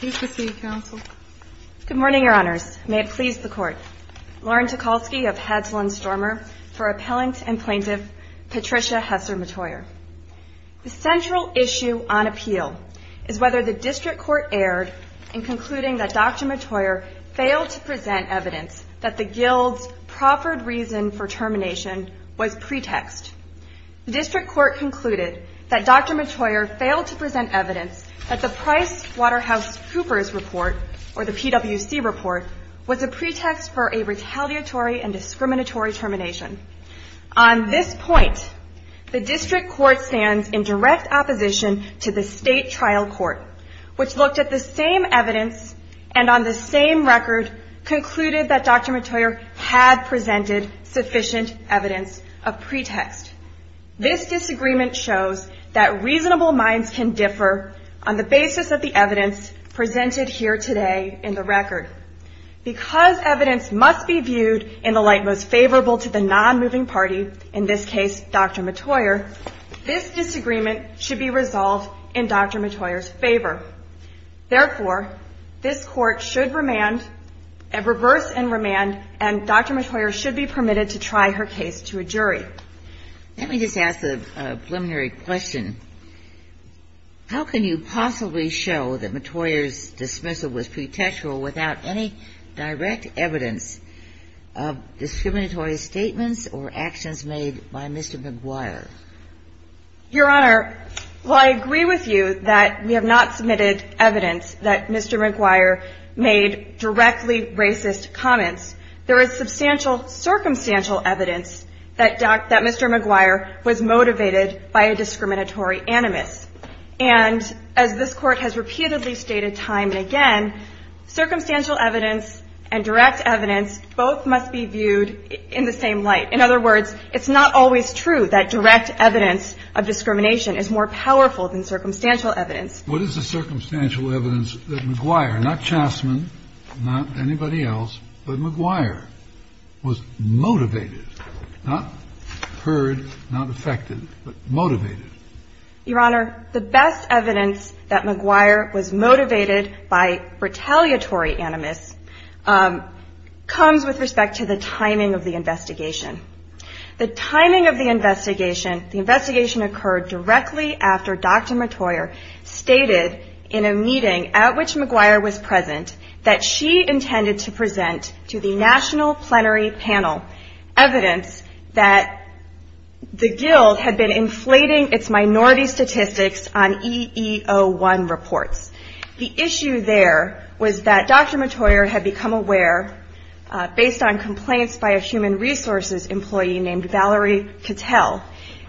Good morning, Your Honors. May it please the Court. Lauren Tucholsky of Hadsall and Stormer for Appellant and Plaintiff Patricia Hesser METOYER. The central issue on appeal is whether the District Court erred in concluding that Dr. METOYER failed to present evidence that the Guild's proffered reason for termination was Cooper's report, or the PWC report, was a pretext for a retaliatory and discriminatory termination. On this point, the District Court stands in direct opposition to the State Trial Court, which looked at the same evidence and on the same record concluded that Dr. METOYER had presented sufficient evidence of pretext. This disagreement shows that reasonable minds can differ on the basis of the evidence presented here today in the record. Because evidence must be viewed in the light most favorable to the non-moving party, in this case Dr. METOYER, this disagreement should be resolved in Dr. METOYER's favor. Therefore, this Court should reverse and remand, and Dr. METOYER should be permitted to try her case to a jury. Let me just ask a preliminary question. How can you possibly show that METOYER's dismissal was pretextual without any direct evidence of discriminatory statements or actions made by Mr. McGuire? Your Honor, while I agree with you that we have not submitted evidence that Mr. McGuire made directly racist comments, there is substantial circumstantial evidence that Mr. McGuire was motivated by a discriminatory animus. And as this Court has repeatedly stated time and again, circumstantial evidence and direct evidence both must be viewed in the same light. In other words, it's not always true that direct evidence of discrimination is more powerful than circumstantial evidence. What is the circumstantial evidence that McGuire, not Chassman, not anybody else, but McGuire was motivated, not heard, not affected, but motivated? Your Honor, the best evidence that McGuire was motivated by retaliatory animus comes with respect to the timing of the investigation. The timing of the investigation, the investigation occurred directly after Dr. METOYER stated in a meeting at which McGuire was present that she intended to present to the National Plenary Panel evidence that the Guild had been inflating its minority statistics on EEO-1 reports. The issue there was that Dr. METOYER had become aware, based on complaints by a Human Resources employee named Valerie Cattell,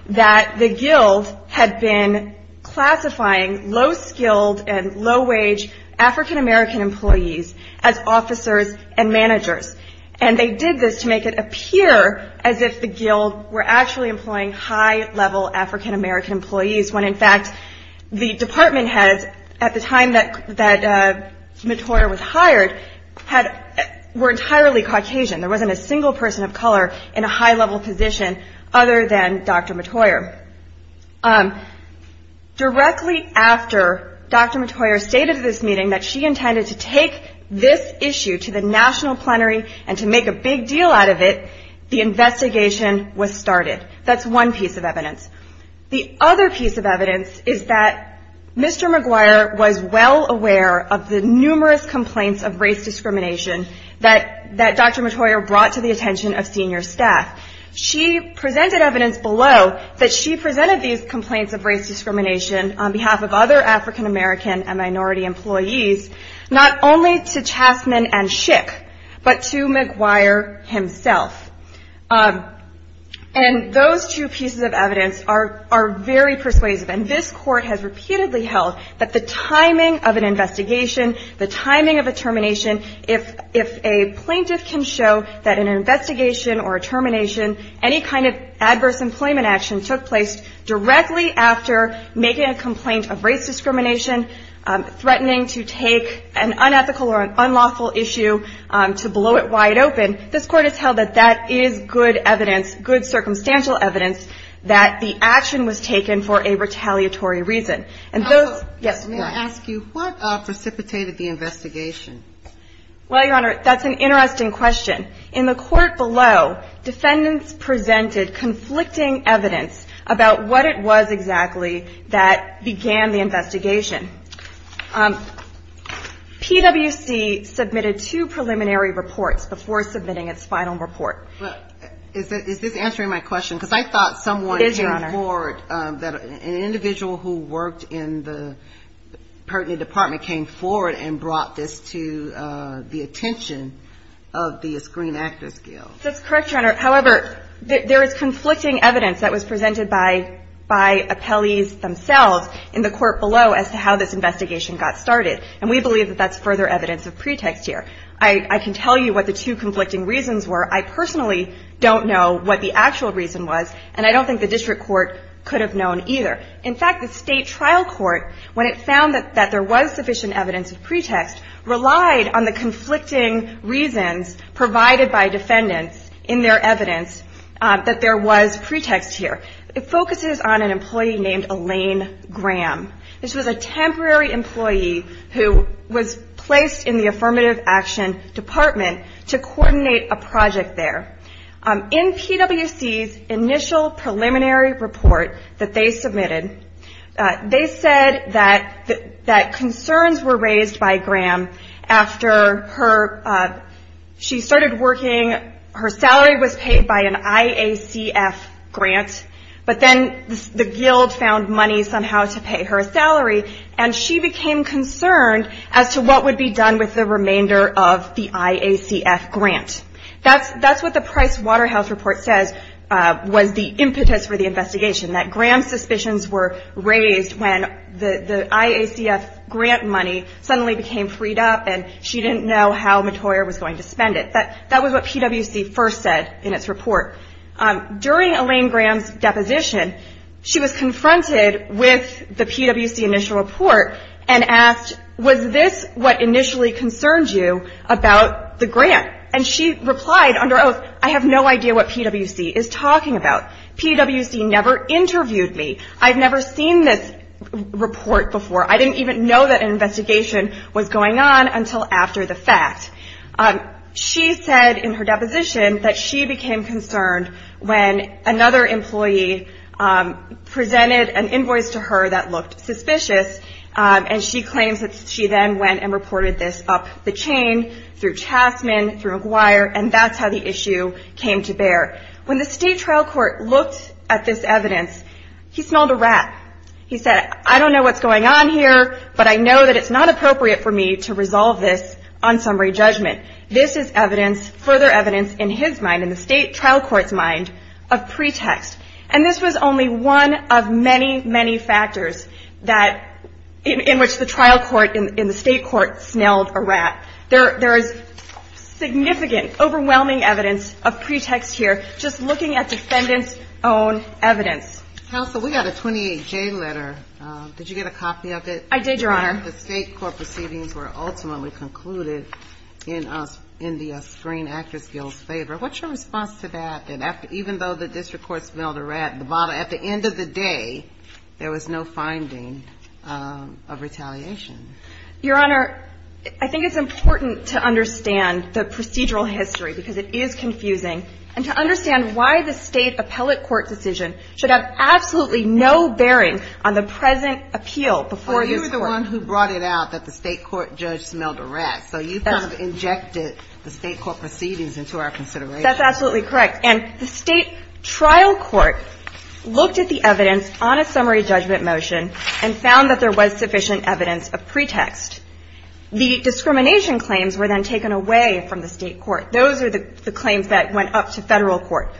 that the Guild had been classifying low-skilled and low-wage African-American employees as officers and managers. And they did this to make it appear as if the Guild were actually employing high-level African-American employees when, in fact, the department heads at the time that METOYER was hired were entirely Caucasian. There wasn't a single person of color other than Dr. METOYER. Directly after Dr. METOYER stated at this meeting that she intended to take this issue to the National Plenary and to make a big deal out of it, the investigation was started. That's one piece of evidence. The other piece of evidence is that Mr. McGuire was well aware of the numerous complaints of race discrimination that Dr. METOYER brought to the attention of senior staff. She presented evidence below that she presented these complaints of race discrimination on behalf of other African-American and minority employees, not only to Chassman and Schick, but to McGuire himself. And those two pieces of evidence are very persuasive. And this Court has repeatedly held that the timing of an investigation, the timing of a termination, if a plaintiff can show that an investigation or a termination, any kind of adverse employment action took place directly after making a complaint of race discrimination, threatening to take an unethical or an unlawful issue to blow it wide open, this Court has held that that is good evidence, good circumstantial evidence that the action was taken for a retaliatory reason. And those... May I ask you, what precipitated the investigation? Well, Your Honor, that's an interesting question. In the Court below, defendants presented conflicting evidence about what it was exactly that began the investigation. PwC submitted two preliminary reports before submitting its final report. Is this answering my question? Because I thought someone in the Board, an individual who worked in the pertinent department, came forward and brought this to the attention of the Screen Actors Guild. That's correct, Your Honor. However, there is conflicting evidence that was presented by appellees themselves in the Court below as to how this investigation got started. And we believe that that's further evidence of pretext here. I can tell you what the two conflicting reasons were. I personally don't know what the actual reason was, and I don't think the District Court could have known either. In fact, the State Trial Court, when it found that there was sufficient evidence of pretext, relied on the conflicting reasons provided by defendants in their evidence that there was pretext here. It focuses on an employee named Elaine Graham. This was a temporary employee who was placed in the Affirmative Action Department to coordinate a project there. In PwC's initial preliminary report that they submitted, they said that concerns were raised by Graham after she started working. Her salary was paid by an IACF grant, but then the Guild found money somehow to the remainder of the IACF grant. That's what the Price Waterhouse Report says was the impetus for the investigation, that Graham's suspicions were raised when the IACF grant money suddenly became freed up and she didn't know how Mottoyer was going to spend it. That was what PwC first said in its report. During Elaine Graham's deposition, she was confronted with the PwC initial report and asked, was this what initially concerned you about the grant? And she replied under oath, I have no idea what PwC is talking about. PwC never interviewed me. I've never seen this report before. I didn't even know that an investigation was going on until after the fact. She said in her deposition that she became concerned when another employee presented an invoice to her that looked suspicious, and she claims that she then went and reported this up the chain through Chasman, through McGuire, and that's how the issue came to bear. When the state trial court looked at this evidence, he smelled a rat. He said, I don't know what's going on here, but I know that it's not appropriate for me to resolve this on summary judgment. This is evidence, further evidence in his mind, in the state trial court's mind, of pretext. And this was only one of many, many factors that, in which the trial court, in the state court, smelled a rat. There is significant, overwhelming evidence of pretext here, just looking at defendant's own evidence. Counsel, we got a 28J letter. Did you get a copy of it? I did, Your Honor. The state court proceedings were ultimately concluded in the Screen Actors Guild's favor. What's your response to that, that even though the district court smelled a rat, at the end of the day, there was no finding of retaliation? Your Honor, I think it's important to understand the procedural history, because it is confusing, and to understand why the state appellate court decision should have absolutely no bearing on the present appeal before this Court. Well, you were the one who brought it out that the state court judge smelled a rat. So you kind of injected the state court proceedings into our consideration. That's absolutely correct. And the state trial court looked at the evidence on a summary judgment motion, and found that there was sufficient evidence of pretext. The discrimination claims were then taken away from the state court. Those are the claims that went up to federal court.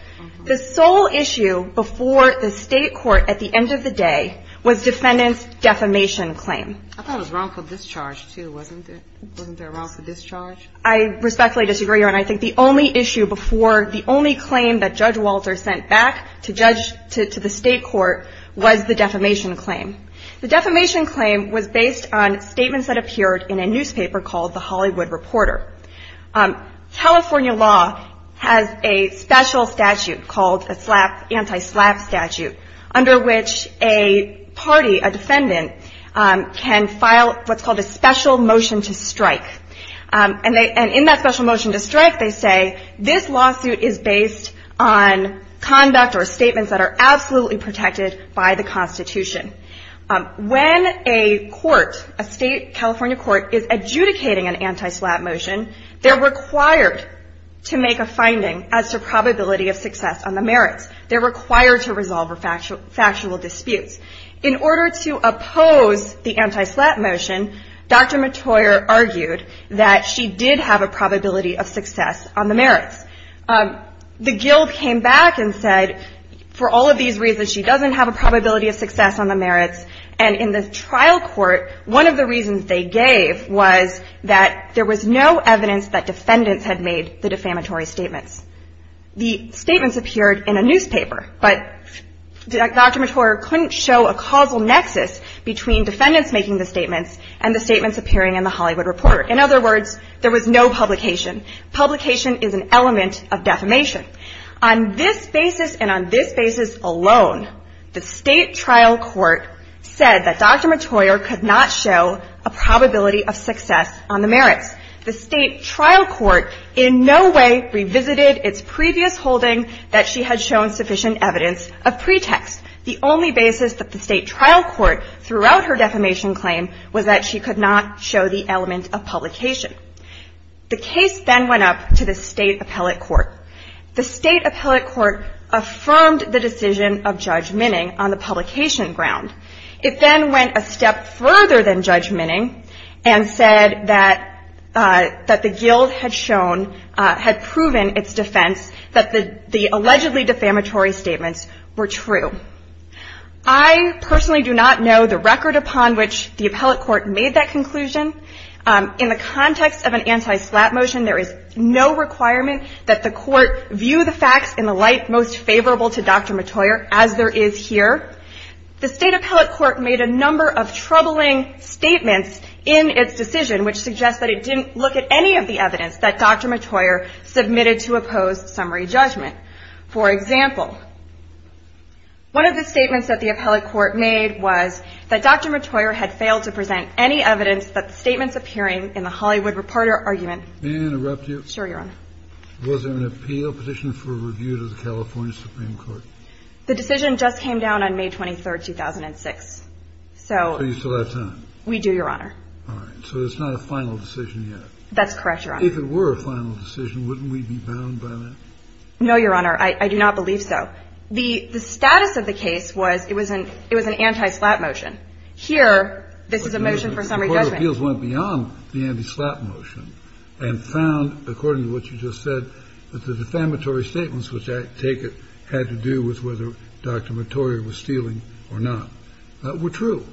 The sole issue before the state court, at the end of the day, was defendant's defamation claim. I thought it was wrongful discharge, too, wasn't it? Wasn't there a wrongful discharge? I respectfully disagree, Your Honor. I think the only issue before, the only claim that Judge Walter sent back to judge, to the state court, was the defamation claim. The defamation claim was based on statements that appeared in a newspaper called The Hollywood Reporter. California law has a special statute called a slap, anti-slap statute, under which a party, a defendant, can file what's called a special motion to strike. And in that special motion to strike, they say, this lawsuit is based on conduct or statements that are absolutely protected by the Constitution. When a court, a state California court, is adjudicating an anti-slap motion, they're required to make a finding as to probability of success on factual disputes. In order to oppose the anti-slap motion, Dr. Mottoyer argued that she did have a probability of success on the merits. The guild came back and said, for all of these reasons, she doesn't have a probability of success on the merits. And in the trial court, one of the reasons they gave was that there was no evidence that defendants had made the statements. Dr. Mottoyer couldn't show a causal nexus between defendants making the statements and the statements appearing in The Hollywood Reporter. In other words, there was no publication. Publication is an element of defamation. On this basis and on this basis alone, the state trial court said that Dr. Mottoyer could not show a probability of success on the merits. The state trial court in no way revisited its previous holding that she had shown sufficient evidence of pretext. The only basis that the state trial court threw out her defamation claim was that she could not show the element of publication. The case then went up to the state appellate court. The state appellate court affirmed the decision of Judge Minning on the publication ground. It then went a step further than Judge Minning and said that the guild had shown, had proven its defense, that the allegedly defamatory statements were true. I personally do not know the record upon which the appellate court made that conclusion. In the context of an anti-slap motion, there is no requirement that the court view the facts in the light most favorable to Dr. Mottoyer as there is here. The state appellate court made a number of troubling statements in its decision which suggests that it didn't look at any of the evidence that Dr. Mottoyer submitted to oppose summary judgment. For example, one of the statements that the appellate court made was that Dr. Mottoyer had failed to present any evidence that the statements appearing in the Hollywood Reporter argument. May I interrupt you? Sure, Your Honor. Was there an appeal petition for review to the California Supreme Court? The decision just came down on May 23rd, 2006. So So you still have time? We do, Your Honor. All right. So it's not a final decision yet? That's correct, Your Honor. If it were a final decision, wouldn't we be bound by that? No, Your Honor. I do not believe so. The status of the case was it was an anti-slap motion. Here, this is a motion for summary judgment. But the court of appeals went beyond the anti-slap motion and found, according to what you just said, that the defamatory statements, which I take it had to do with whether Dr. Mottoyer was stealing or not, were true.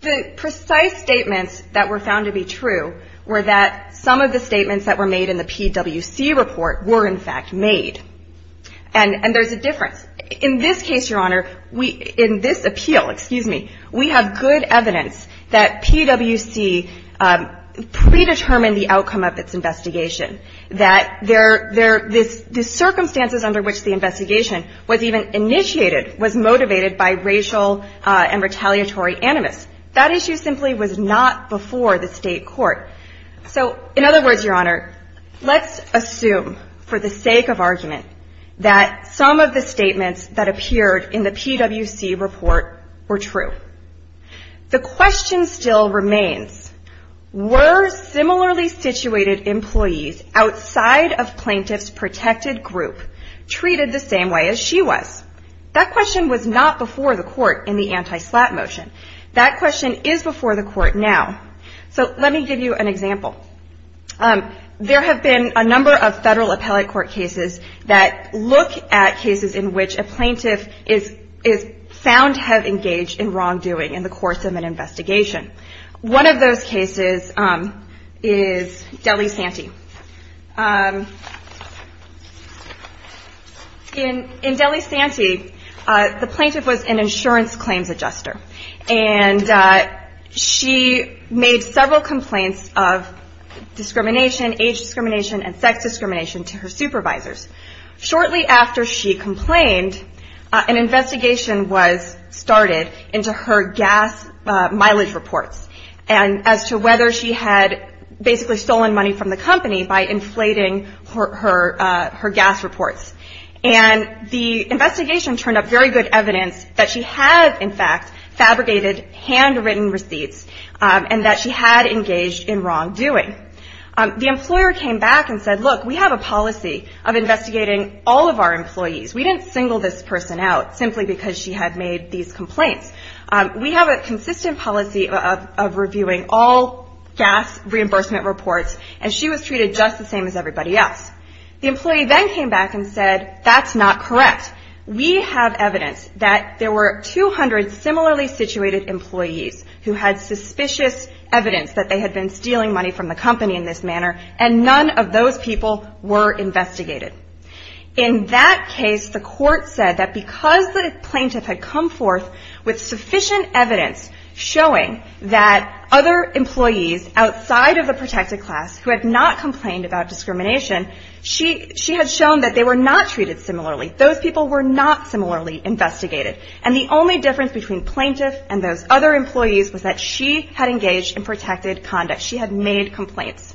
The precise statements that were found to be true were that some of the statements that were made in the PWC report were, in fact, made. And there's a difference. In this case, Your Honor, in this appeal, we have good evidence that PWC predetermined the outcome of its investigation, that the circumstances under which the investigation was even initiated was motivated by racial and retaliatory animus. That issue simply was not before the state court. So, in other words, Your Honor, let's assume, for the sake of argument, that some of the statements that appeared in the PWC report were true. The question still remains, were similarly situated employees outside of plaintiff's protected group treated the same way as she was? That question was not before the court in the anti-slap motion. That question is before the court now. So let me give you an example. There have been a number of federal appellate court cases that look at cases in which a plaintiff is found to have engaged in wrongdoing in the case. One of those cases is Delisanti. In Delisanti, the plaintiff was an insurance claims adjuster, and she made several complaints of discrimination, age discrimination, and sex discrimination to her supervisors. Shortly after she complained, an investigation was conducted as to whether she had basically stolen money from the company by inflating her gas reports. And the investigation turned up very good evidence that she had, in fact, fabricated handwritten receipts and that she had engaged in wrongdoing. The employer came back and said, look, we have a policy of investigating all of our employees. We didn't single this person out simply because she had made these complaints. We have a consistent policy of reviewing all gas reimbursement reports, and she was treated just the same as everybody else. The employee then came back and said, that's not correct. We have evidence that there were 200 similarly situated employees who had suspicious evidence that they had been stealing money from the company in this manner, and none of those people were investigated. In that case, the court said that because the plaintiff had come forth with sufficient evidence showing that other employees outside of the protected class who had not complained about discrimination, she had shown that they were not treated similarly. Those people were not similarly investigated. And the only difference between plaintiff and those other employees was that she had engaged in protected conduct. She had made complaints.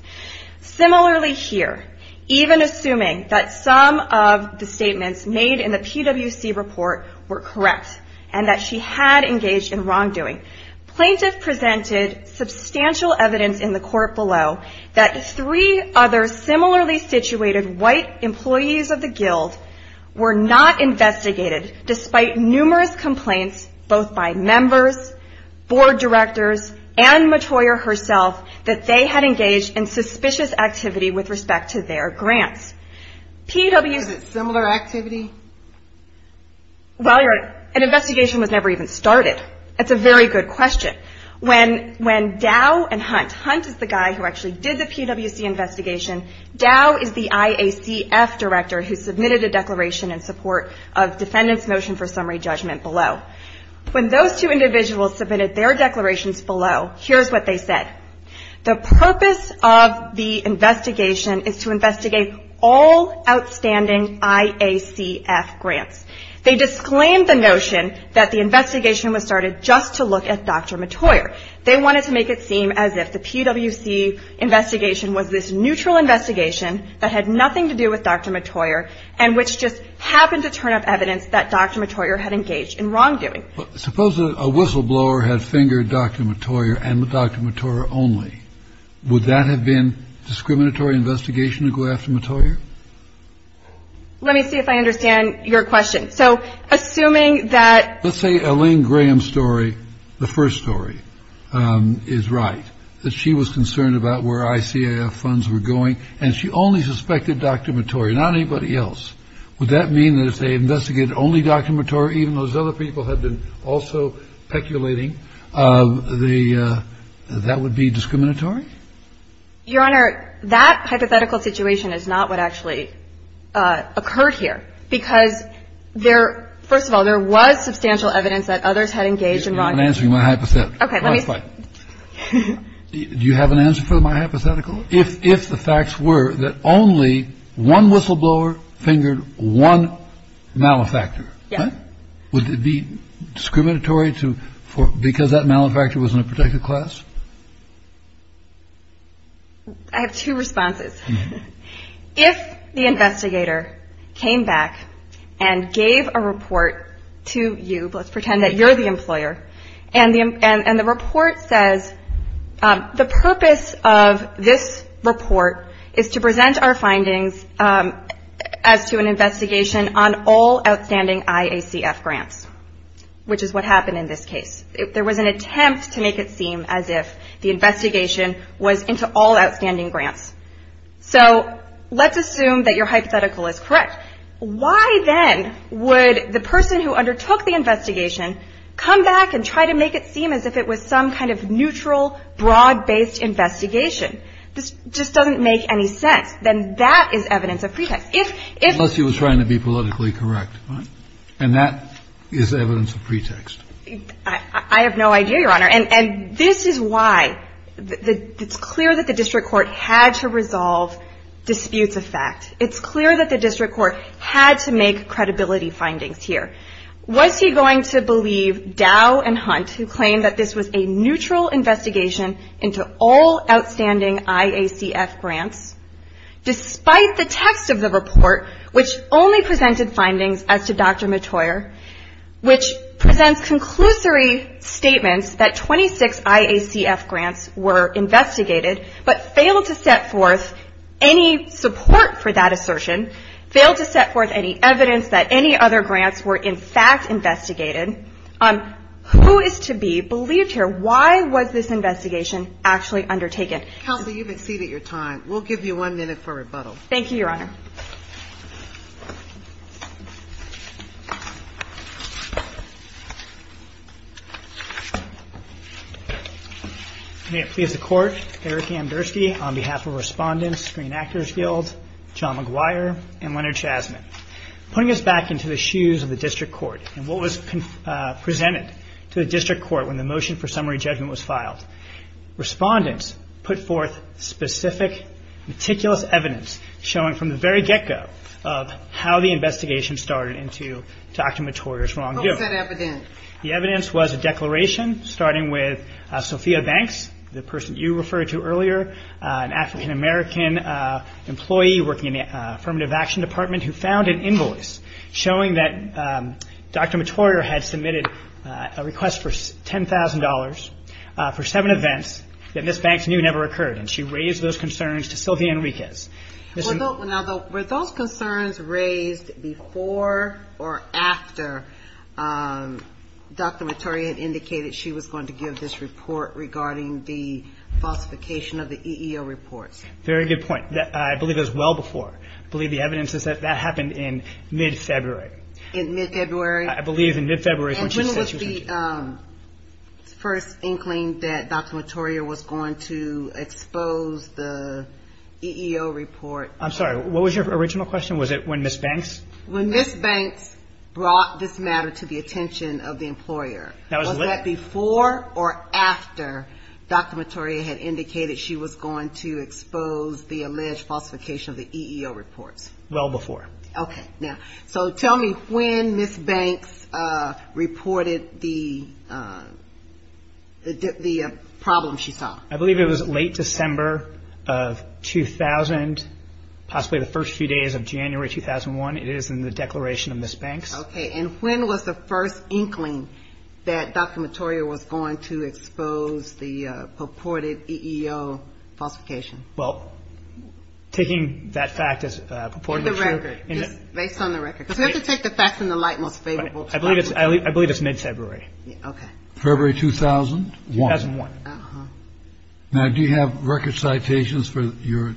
Similarly here, even assuming that some of the statements made in the PWC report were correct and that she had engaged in wrongdoing, plaintiff presented substantial evidence in the court below that three other similarly situated white employees of the guild were not investigated despite numerous complaints both by members, board directors, and suspicious activity with respect to their grants. PWC Is it similar activity? Well, an investigation was never even started. That's a very good question. When Dow and Hunt, Hunt is the guy who actually did the PWC investigation, Dow is the IACF director who submitted a declaration in support of defendant's motion for summary judgment below. When those two individuals submitted their declarations below, here's what they said. The purpose of the investigation is to investigate all outstanding IACF grants. They disclaimed the notion that the investigation was started just to look at Dr. Mottoyer. They wanted to make it seem as if the PWC investigation was this neutral investigation that had nothing to do with Dr. Mottoyer and which just happened to turn up evidence that Dr. Mottoyer had engaged in wrongdoing. Suppose a whistleblower had fingered Dr. Mottoyer and Dr. Mottoyer only. Would that have been discriminatory investigation to go after Mottoyer? Let me see if I understand your question. So assuming that. Let's say Elaine Graham's story, the first story, is right, that she was concerned about where IACF funds were going and she only suspected Dr. Mottoyer, not anybody else. Would that mean that if they investigated only Dr. Mottoyer, even though those other people had been also peculating, that that would be discriminatory? Your Honor, that hypothetical situation is not what actually occurred here, because there – first of all, there was substantial evidence that others had engaged in wrongdoing. You're not answering my hypothetical. Okay. Let me see. Do you have an answer for my hypothetical? If the facts were that only one whistleblower fingered one malefactor. Yes. Would it be discriminatory because that malefactor was in a particular class? I have two responses. If the investigator came back and gave a report to you – let's pretend that you're the employer – and the report says the purpose of this report is to present our findings as to an investigation on all outstanding IACF grants, which is what happened in this case. There was an attempt to make it seem as if the investigation was into all outstanding grants. So let's assume that your hypothetical is correct. Why then would the person who undertook the investigation come back and try to make it seem as if it was some kind of neutral, broad-based investigation? This just doesn't make any sense. Then that is evidence of pretext. Unless he was trying to be politically correct. And that is evidence of pretext. I have no idea, Your Honor. And this is why it's clear that the district court had to resolve disputes of fact. It's clear that the district court had to make credibility findings here. Was he going to believe Dow and Hunt, who claimed that this was a neutral investigation into all outstanding IACF grants, despite the text of the report, which only presented findings as to Dr. Mottoyer, which presents conclusory statements that 26 IACF grants were investigated, but failed to set forth any support for that assertion, failed to set forth any evidence that any other grants were in fact investigated? Who is to be believed here? Why was this investigation actually undertaken? Counsel, you've exceeded your time. We'll give you one minute for rebuttal. Thank you, Your Honor. May it please the Court, Eric Amdurski on behalf of Respondents, Screen Actors Guild, John McGuire, and Leonard Chasman. Putting us back into the shoes of the district court and what was presented to the district court when the motion for summary judgment was filed, Respondents put forth specific, meticulous evidence showing from the very get-go of how the investigation started into Dr. Mottoyer's wrongdoing. What was that evidence? The evidence was a declaration starting with Sophia Banks, the person you referred to earlier, an African-American employee working in the Affirmative Action Department who found an invoice showing that Dr. Mottoyer had submitted a request for $10,000 for seven events that Ms. Banks knew never occurred. And she raised those concerns to Sylvia Enriquez. Were those concerns raised before or after Dr. Mottoyer had indicated she was going to give this report regarding the falsification of the EEO reports? Very good point. I believe it was well before. I believe the evidence is that that happened in mid-February. In mid-February? I believe in mid-February. And when was the first inkling that Dr. Mottoyer was going to expose the EEO report? I'm sorry. What was your original question? Was it when Ms. Banks? When Ms. Banks brought this matter to the attention of the employer. Was that before or after Dr. Mottoyer had indicated she was going to expose the alleged falsification of the EEO reports? Well before. Okay. Now, so tell me when Ms. Banks reported the problem she saw. I believe it was late December of 2000, possibly the first few days of January 2001. It is in the declaration of Ms. Banks. Okay. And when was the first inkling that Dr. Mottoyer was going to expose the purported EEO falsification? Well, taking that fact as purportedly true. Based on the record. Because we have to take the facts in the light most favorably. I believe it's mid-February. Okay. February 2001? 2001. Uh-huh. Now, do you have record citations for your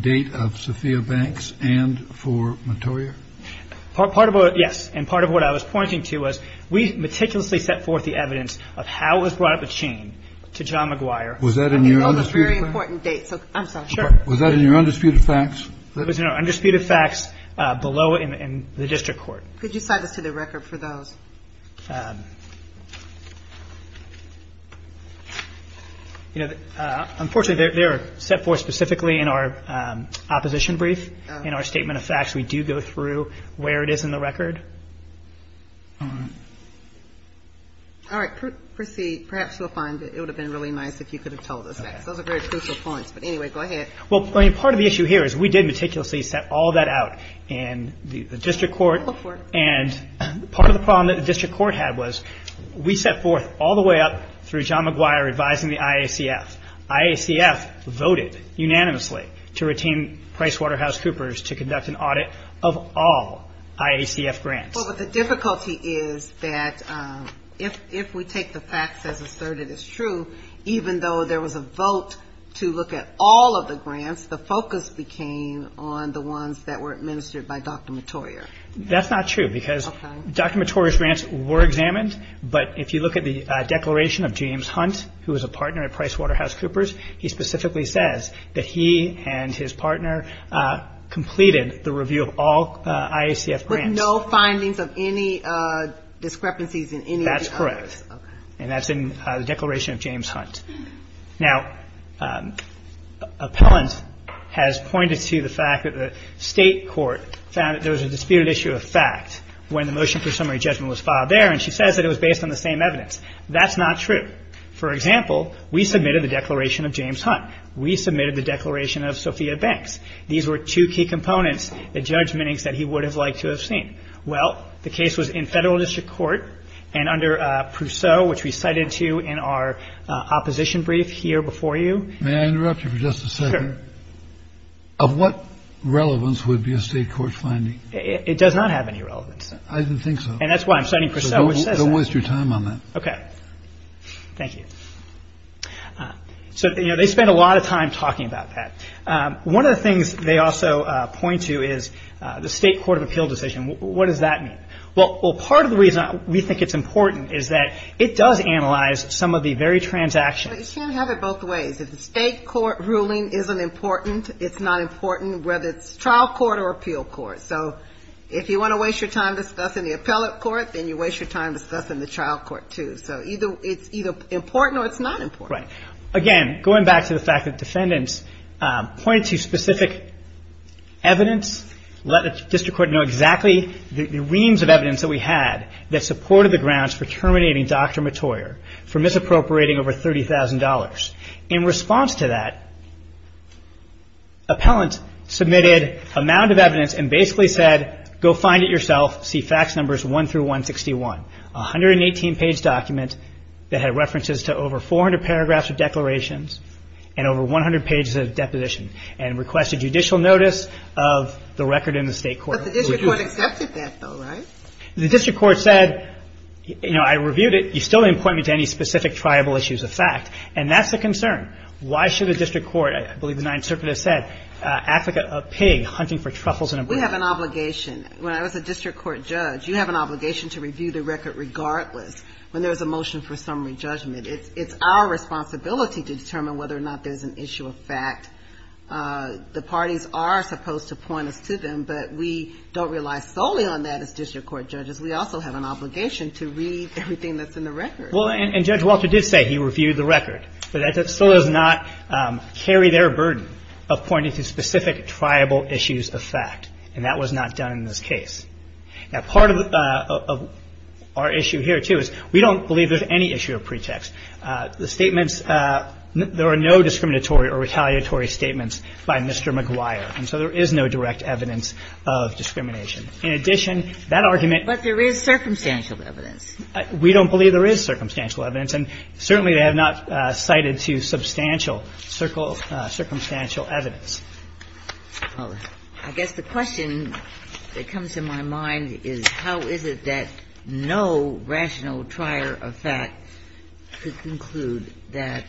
date of Sophia Banks and for Mottoyer? Part of what, yes. And part of what I was pointing to was we meticulously set forth the evidence of how it was brought up a chain to John McGuire. Was that in your undisputed facts? I know that's a very important date. I'm sorry. Sure. Was that in your undisputed facts? It was in our undisputed facts below in the district court. Could you cite us to the record for those? Unfortunately, they're set forth specifically in our opposition brief. In our statement of facts, we do go through where it is in the record. All right. Proceed. Perhaps you'll find it would have been really nice if you could have told us that. Those are very crucial points. But anyway, go ahead. Well, part of the issue here is we did meticulously set all that out in the district court. Go for it. And part of the problem that the district court had was we set forth all the way up through John McGuire advising the IACF. IACF voted unanimously to retain PricewaterhouseCoopers to conduct an audit of all IACF grants. Well, but the difficulty is that if we take the facts as asserted as true, even though there was a vote to look at all of the grants, the focus became on the ones that were administered by Dr. Mottorio. That's not true because Dr. Mottorio's grants were examined. But if you look at the declaration of James Hunt, who was a partner at PricewaterhouseCoopers, he specifically says that he and his partner completed the review of all IACF grants. No findings of any discrepancies in any of the others. That's correct. Okay. And that's in the declaration of James Hunt. Now, appellant has pointed to the fact that the state court found that there was a disputed issue of fact when the motion for summary judgment was filed there, and she says that it was based on the same evidence. That's not true. For example, we submitted the declaration of James Hunt. We submitted the declaration of Sophia Banks. These were two key components, the judgments that he would have liked to have seen. Well, the case was in federal district court and under Prousseau, which we cited to you in our opposition brief here before you. May I interrupt you for just a second? Sure. Of what relevance would be a state court finding? It does not have any relevance. I didn't think so. And that's why I'm citing Prousseau. Don't waste your time on that. Okay. Thank you. So, you know, they spent a lot of time talking about that. One of the things they also point to is the state court of appeal decision. What does that mean? Well, part of the reason we think it's important is that it does analyze some of the very transactions. You can't have it both ways. If the state court ruling isn't important, it's not important whether it's trial court or appeal court. So if you want to waste your time discussing the appellate court, then you waste your time discussing the trial court, too. So it's either important or it's not important. Right. Again, going back to the fact that defendants pointed to specific evidence, let the district court know exactly the reams of evidence that we had that supported the grounds for terminating Dr. Matoyer for misappropriating over $30,000. In response to that, appellant submitted a mound of evidence and basically said, Go find it yourself. See fax numbers 1 through 161. A 118-page document that had references to over 400 paragraphs of declarations and over 100 pages of deposition and requested judicial notice of the record in the state court. But the district court accepted that, though, right? The district court said, you know, I reviewed it. You still didn't point me to any specific tribal issues of fact, and that's a concern. Why should a district court, I believe the Ninth Circuit has said, act like a pig hunting for truffles in a brook? We have an obligation. When I was a district court judge, you have an obligation to review the record regardless when there's a motion for summary judgment. It's our responsibility to determine whether or not there's an issue of fact. The parties are supposed to point us to them, but we don't rely solely on that as district court judges. We also have an obligation to read everything that's in the record. Well, and Judge Walter did say he reviewed the record. But that still does not carry their burden of pointing to specific tribal issues of fact, and that was not done in this case. Now, part of our issue here, too, is we don't believe there's any issue of pretext. The statements – there are no discriminatory or retaliatory statements by Mr. McGuire, and so there is no direct evidence of discrimination. In addition, that argument – But there is circumstantial evidence. We don't believe there is circumstantial evidence. And certainly, they have not cited to substantial circumstantial evidence. Well, I guess the question that comes to my mind is how is it that no rational trier of fact could conclude that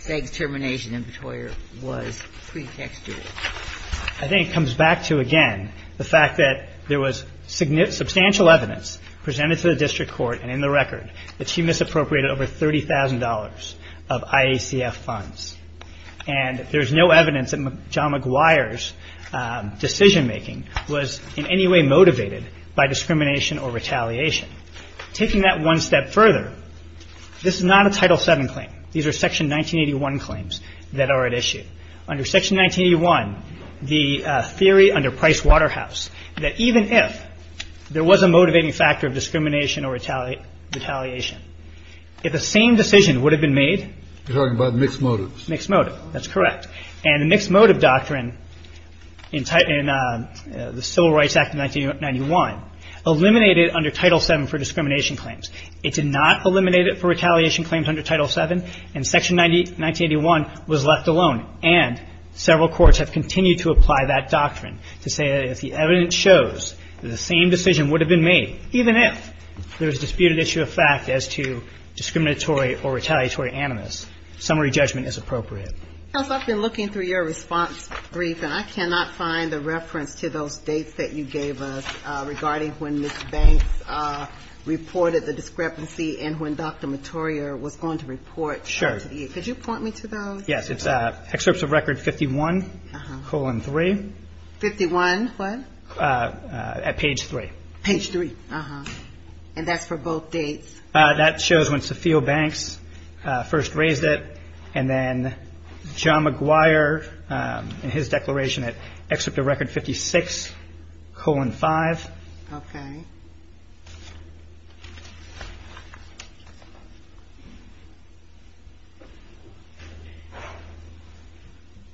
Feg's termination in Petoyer was pretextual? I think it comes back to, again, the fact that there was substantial evidence presented to the district court, and in the record, that she misappropriated over $30,000 of IACF funds. And there's no evidence that John McGuire's decision-making was in any way motivated by discrimination or retaliation. Taking that one step further, this is not a Title VII claim. These are Section 1981 claims that are at issue. Under Section 1981, the theory under Price Waterhouse that even if there was a motivating factor of discrimination or retaliation, if the same decision would have been made – You're talking about mixed motives. Mixed motive. That's correct. And the mixed motive doctrine in the Civil Rights Act of 1991 eliminated under Title VII for discrimination claims. It did not eliminate it for retaliation claims under Title VII, and Section 1981 was left alone. And several courts have continued to apply that doctrine to say that if the evidence shows that the same decision would have been made, even if there was a disputed issue of fact as to discriminatory or retaliatory animus, summary judgment is appropriate. Counsel, I've been looking through your response brief, and I cannot find a reference to those dates that you gave us regarding when Ms. Banks reported the discrepancy and when Dr. Mottorio was going to report. Sure. Could you point me to those? Yes. It's excerpts of record 51, colon 3. 51 what? At page 3. Page 3. Uh-huh. And that's for both dates? That shows when Sophia Banks first raised it, and then John McGuire in his declaration at excerpt of record 56, colon 5. Okay.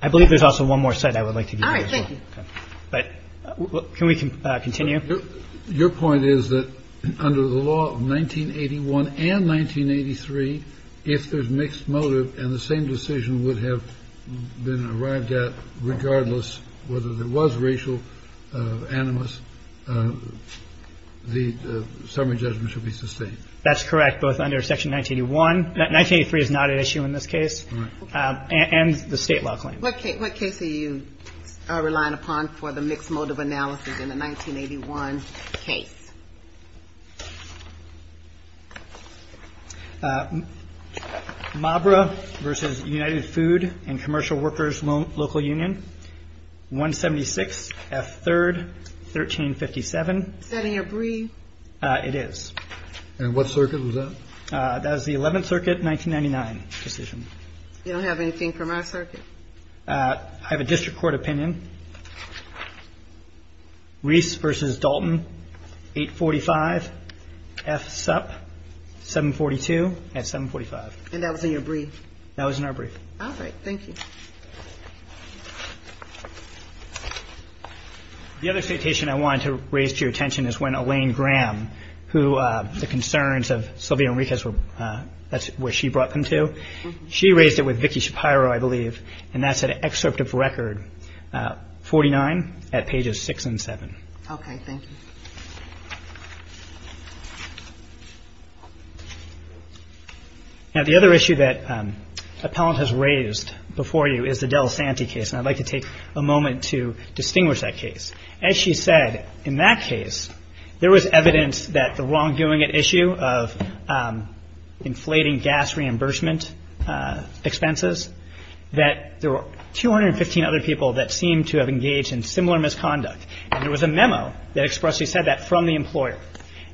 I believe there's also one more cite I would like to give you. All right. Thank you. But can we continue? Your point is that under the law of 1981 and 1983, if there's mixed motive and the same decision would have been arrived at regardless whether there was racial animus, the summary judgment should be sustained. That's correct, both under section 1981. 1983 is not at issue in this case. All right. And the State law claim. What case are you relying upon for the mixed motive analysis in the 1981 case? Mabra v. United Food and Commercial Workers Local Union, 176 F. 3rd, 1357. Is that in your brief? It is. And what circuit was that? That was the 11th Circuit, 1999 decision. You don't have anything from our circuit? I have a district court opinion. Reese v. Dalton, 845 F. Supp, 742 F. 745. And that was in your brief? That was in our brief. All right. Thank you. The other citation I wanted to raise to your attention is when Elaine Graham, the concerns of Sylvia Enriquez, that's where she brought them to. She raised it with Vicki Shapiro, I believe, and that's an excerpt of record 49 at pages 6 and 7. Okay. Thank you. Now, the other issue that Appellant has raised before you is the Del Santi case, and I'd like to take a moment to distinguish that case. As she said, in that case, there was evidence that the wrongdoing issue of inflating gas reimbursement expenses, that there were 215 other people that seemed to have engaged in similar misconduct. And there was a memo that expressly said that from the employer.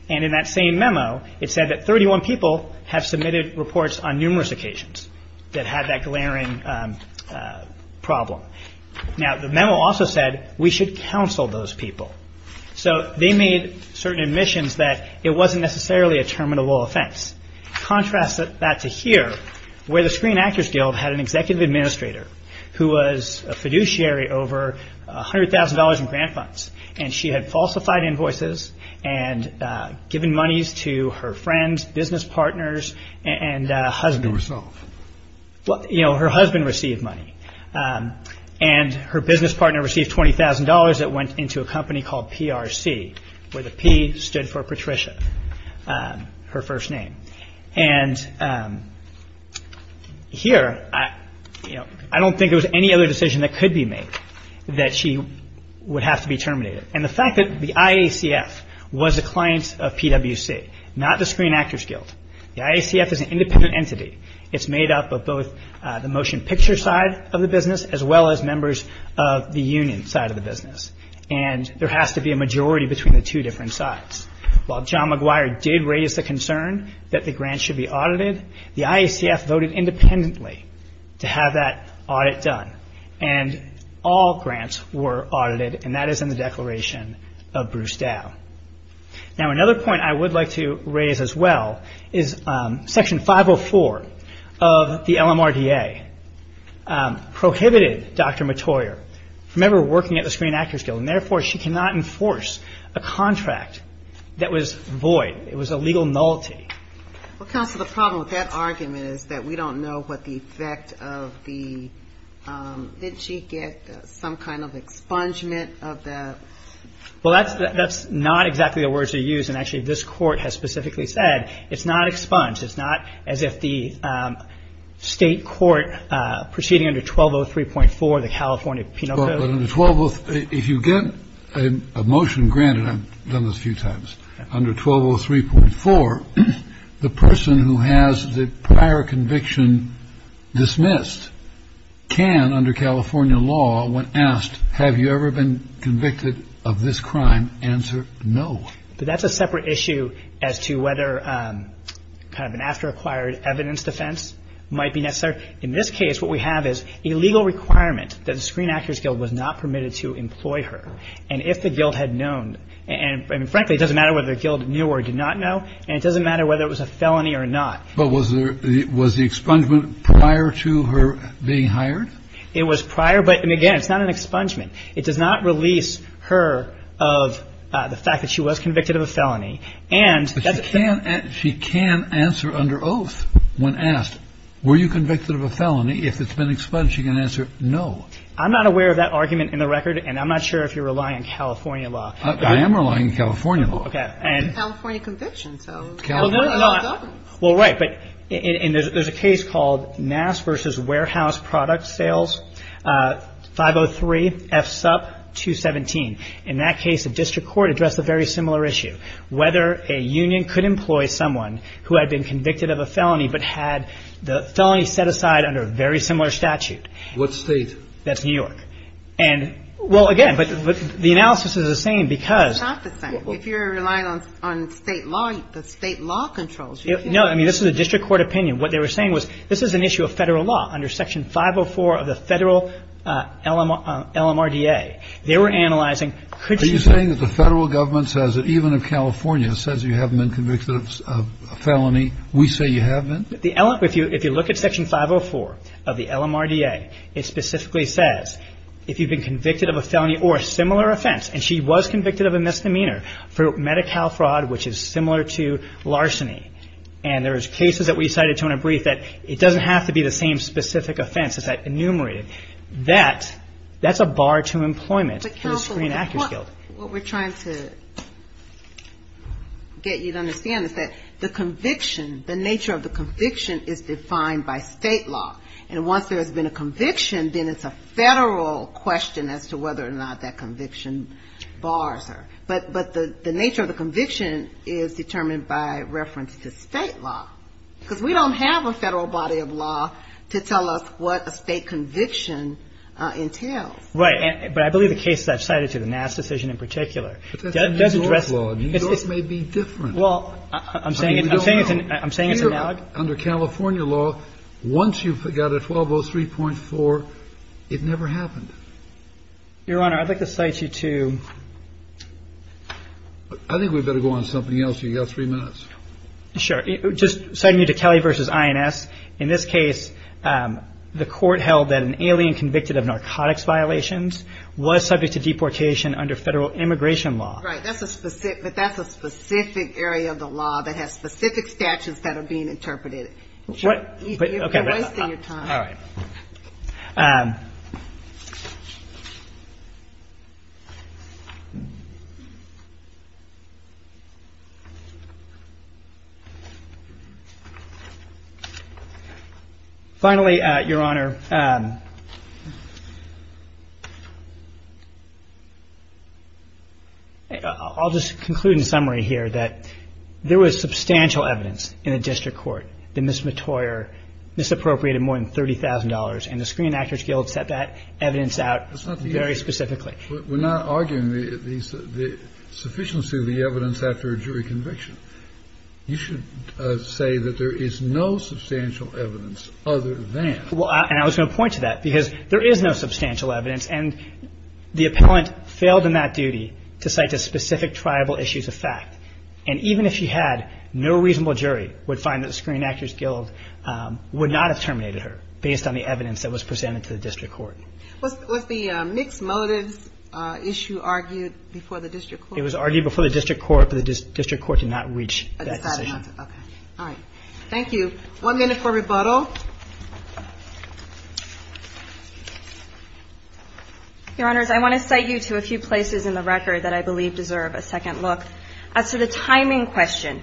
And in that same memo, it said that 31 people have submitted reports on numerous occasions that had that glaring problem. Now, the memo also said we should counsel those people. So they made certain admissions that it wasn't necessarily a terminable offense. Contrast that to here, where the Screen Actors Guild had an executive administrator who was a fiduciary over $100,000 in grant funds, and she had falsified invoices and given monies to her friends, business partners, and husband. Well, you know, her husband received money. And her business partner received $20,000 that went into a company called PRC, where the P stood for Patricia, her first name. And here, you know, I don't think there was any other decision that could be made that she would have to be terminated. And the fact that the IACF was a client of PWC, not the Screen Actors Guild. The IACF is an independent entity. It's made up of both the motion picture side of the business as well as members of the union side of the business. And there has to be a majority between the two different sides. While John McGuire did raise the concern that the grants should be audited, the IACF voted independently to have that audit done. And all grants were audited, and that is in the Declaration of Bruce Dow. Now, another point I would like to raise as well is Section 504 of the LMRDA prohibited Dr. McToyer from ever working at the Screen Actors Guild. And therefore, she cannot enforce a contract that was void. It was a legal nullity. Well, counsel, the problem with that argument is that we don't know what the effect of the – didn't she get some kind of expungement of the – Well, that's not exactly the words to use. And actually, this court has specifically said it's not expunged. It's not as if the state court proceeding under 1203.4, the California Penal Code – If you get a motion granted – I've done this a few times – under 1203.4, the person who has the prior conviction dismissed can, under California law, when asked, have you ever been convicted of this crime, answer no. But that's a separate issue as to whether kind of an after-acquired evidence defense might be necessary. In this case, what we have is a legal requirement that the Screen Actors Guild was not permitted to employ her. And if the guild had known – and frankly, it doesn't matter whether the guild knew or did not know, and it doesn't matter whether it was a felony or not. But was there – was the expungement prior to her being hired? It was prior. But, again, it's not an expungement. It does not release her of the fact that she was convicted of a felony. And that's a – But she can answer under oath when asked, were you convicted of a felony? If it's been expunged, she can answer no. I'm not aware of that argument in the record, and I'm not sure if you're relying on California law. I am relying on California law. Okay. California conviction, so California law doesn't. Well, right, but – and there's a case called NASS v. Warehouse Product Sales, 503 F. Supp. 217. In that case, the district court addressed a very similar issue, whether a union could employ someone who had been convicted of a felony but had the felony set aside under a very similar statute. What state? That's New York. And – well, again, but the analysis is the same because – It's not the same. If you're relying on state law, the state law controls you. No. I mean, this is a district court opinion. What they were saying was this is an issue of Federal law under Section 504 of the Federal LMRDA. They were analyzing – Are you saying that the Federal Government says that even if California says you haven't been convicted of a felony, we say you have been? If you look at Section 504 of the LMRDA, it specifically says if you've been convicted of a felony or a similar offense, and she was convicted of a misdemeanor for Medi-Cal fraud, which is similar to larceny, and there was cases that we cited to in a brief that it doesn't have to be the same specific offense. It's enumerated. That's a bar to employment for the Screen Actors Guild. But, counsel, what we're trying to get you to understand is that the conviction, the nature of the conviction, is defined by state law. And once there has been a conviction, then it's a Federal question as to whether or not that conviction bars her. But the nature of the conviction is determined by reference to state law. Because we don't have a Federal body of law to tell us what a state conviction entails. Right. But I believe the cases I've cited to, the Nass decision in particular, does address that. But that's a New York law. New York may be different. Well, I'm saying it's analog. But under California law, once you've got a 1203.4, it never happened. Your Honor, I'd like to cite you to – I think we'd better go on to something else. You've got three minutes. Sure. Just citing you to Kelly v. INS. In this case, the court held that an alien convicted of narcotics violations was subject to deportation under Federal immigration law. Right. But that's a specific area of the law that has specific statutes that are being interpreted. You're wasting your time. All right. Finally, Your Honor, I'll just conclude in summary here that there was substantial evidence in the district court that Ms. And the Screen Actors Guild set that evidence out very specifically. That's not the issue. We're not arguing the sufficiency of the evidence after a jury conviction. You should say that there is no substantial evidence other than – Well, and I was going to point to that, because there is no substantial evidence. And the appellant failed in that duty to cite to specific tribal issues of fact. And even if she had, no reasonable jury would find that the Screen Actors Guild would not have terminated her based on the evidence that was presented to the district court. Was the mixed motives issue argued before the district court? It was argued before the district court, but the district court did not reach that decision. All right. Thank you. One minute for rebuttal. Your Honors, I want to cite you to a few places in the record that I believe deserve a second look. As to the timing question,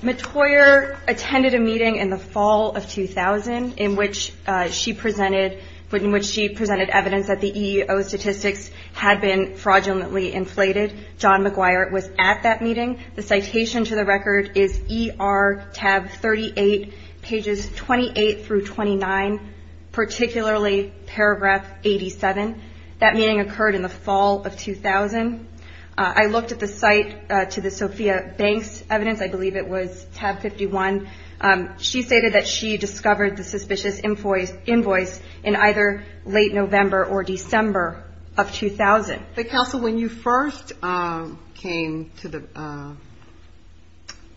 McToyer attended a meeting in the fall of 2000, in which she presented evidence that the EEO statistics had been fraudulently inflated. John McGuire was at that meeting. The citation to the record is ER tab 38, pages 28 through 29, particularly paragraph 87. That meeting occurred in the fall of 2000. I looked at the site to the Sophia Banks evidence. I believe it was tab 51. She stated that she discovered the suspicious invoice in either late November or December of 2000. But, Counsel, when you first came to the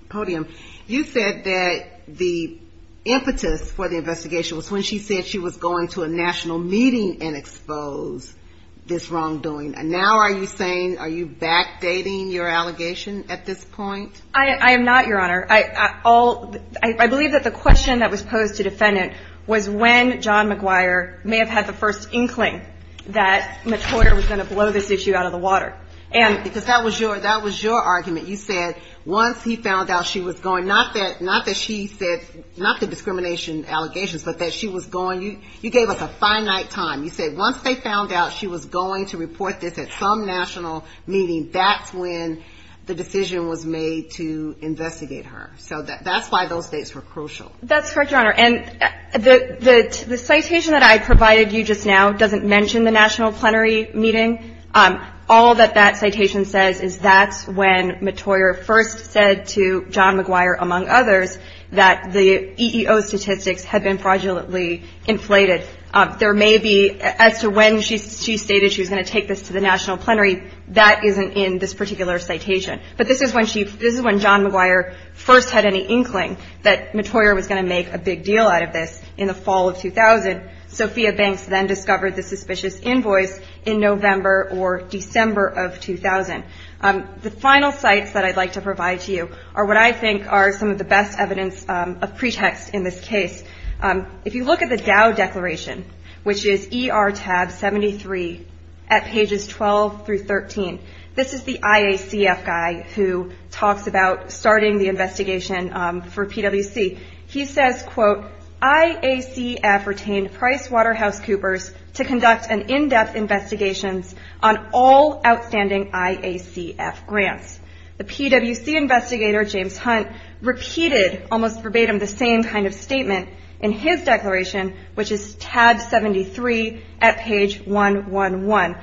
podium, you said that the impetus for the investigation was when she said she was going to a national meeting and expose this wrongdoing. Now are you saying, are you backdating your allegation at this point? I am not, Your Honor. I believe that the question that was posed to defendant was when John McGuire may have had the first inkling that McToyer was going to blow this issue out of the water. Because that was your argument. You said once he found out she was going. Not that she said, not the discrimination allegations, but that she was going. You gave us a finite time. You said once they found out she was going to report this at some national meeting, that's when the decision was made to investigate her. So that's why those dates were crucial. That's correct, Your Honor. And the citation that I provided you just now doesn't mention the national plenary meeting. All that that citation says is that's when McToyer first said to John McGuire, among others, that the EEO statistics had been fraudulently inflated. There may be, as to when she stated she was going to take this to the national plenary, that isn't in this particular citation. But this is when she, this is when John McGuire first had any inkling that McToyer was going to make a big deal out of this in the fall of 2000. Sophia Banks then discovered the suspicious invoice in November or December of 2000. The final sites that I'd like to provide to you are what I think are some of the best evidence of pretext in this case. If you look at the Dow Declaration, which is ER tab 73 at pages 12 through 13, this is the IACF guy who talks about starting the investigation for PwC. He says, quote, IACF retained PricewaterhouseCoopers to conduct an in-depth investigation on all outstanding IACF grants. The PwC investigator, James Hunt, repeated almost verbatim the same kind of statement in his declaration, which is tab 73 at page 111.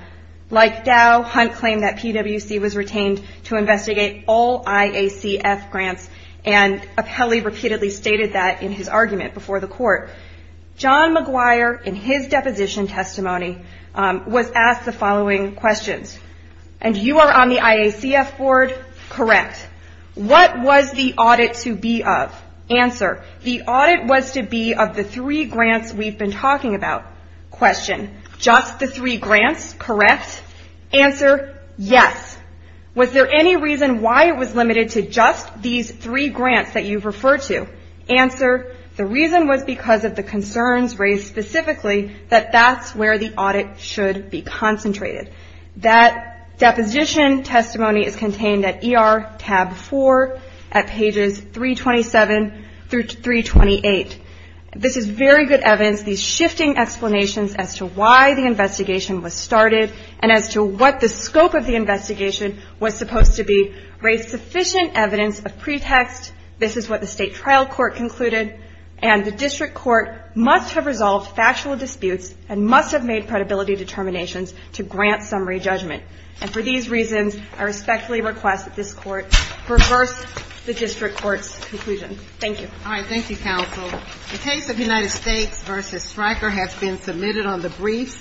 Like Dow, Hunt claimed that PwC was retained to investigate all IACF grants, and Apelli repeatedly stated that in his argument before the court. John McGuire, in his deposition testimony, was asked the following questions. And you are on the IACF board? Correct. What was the audit to be of? Answer. The audit was to be of the three grants we've been talking about. Question. Just the three grants? Correct. Answer. Yes. Was there any reason why it was limited to just these three grants that you've referred to? Answer. The reason was because of the concerns raised specifically that that's where the audit should be concentrated. That deposition testimony is contained at ER tab 4 at pages 327 through 328. This is very good evidence, these shifting explanations as to why the investigation was started and as to what the scope of the investigation was supposed to be raised sufficient evidence of pretext. This is what the state trial court concluded, and the district court must have resolved factual disputes and must have made credibility determinations to grant summary judgment. And for these reasons, I respectfully request that this court reverse the district court's conclusion. Thank you. All right. Thank you, counsel. The case of United States v. Stryker has been submitted on the briefs,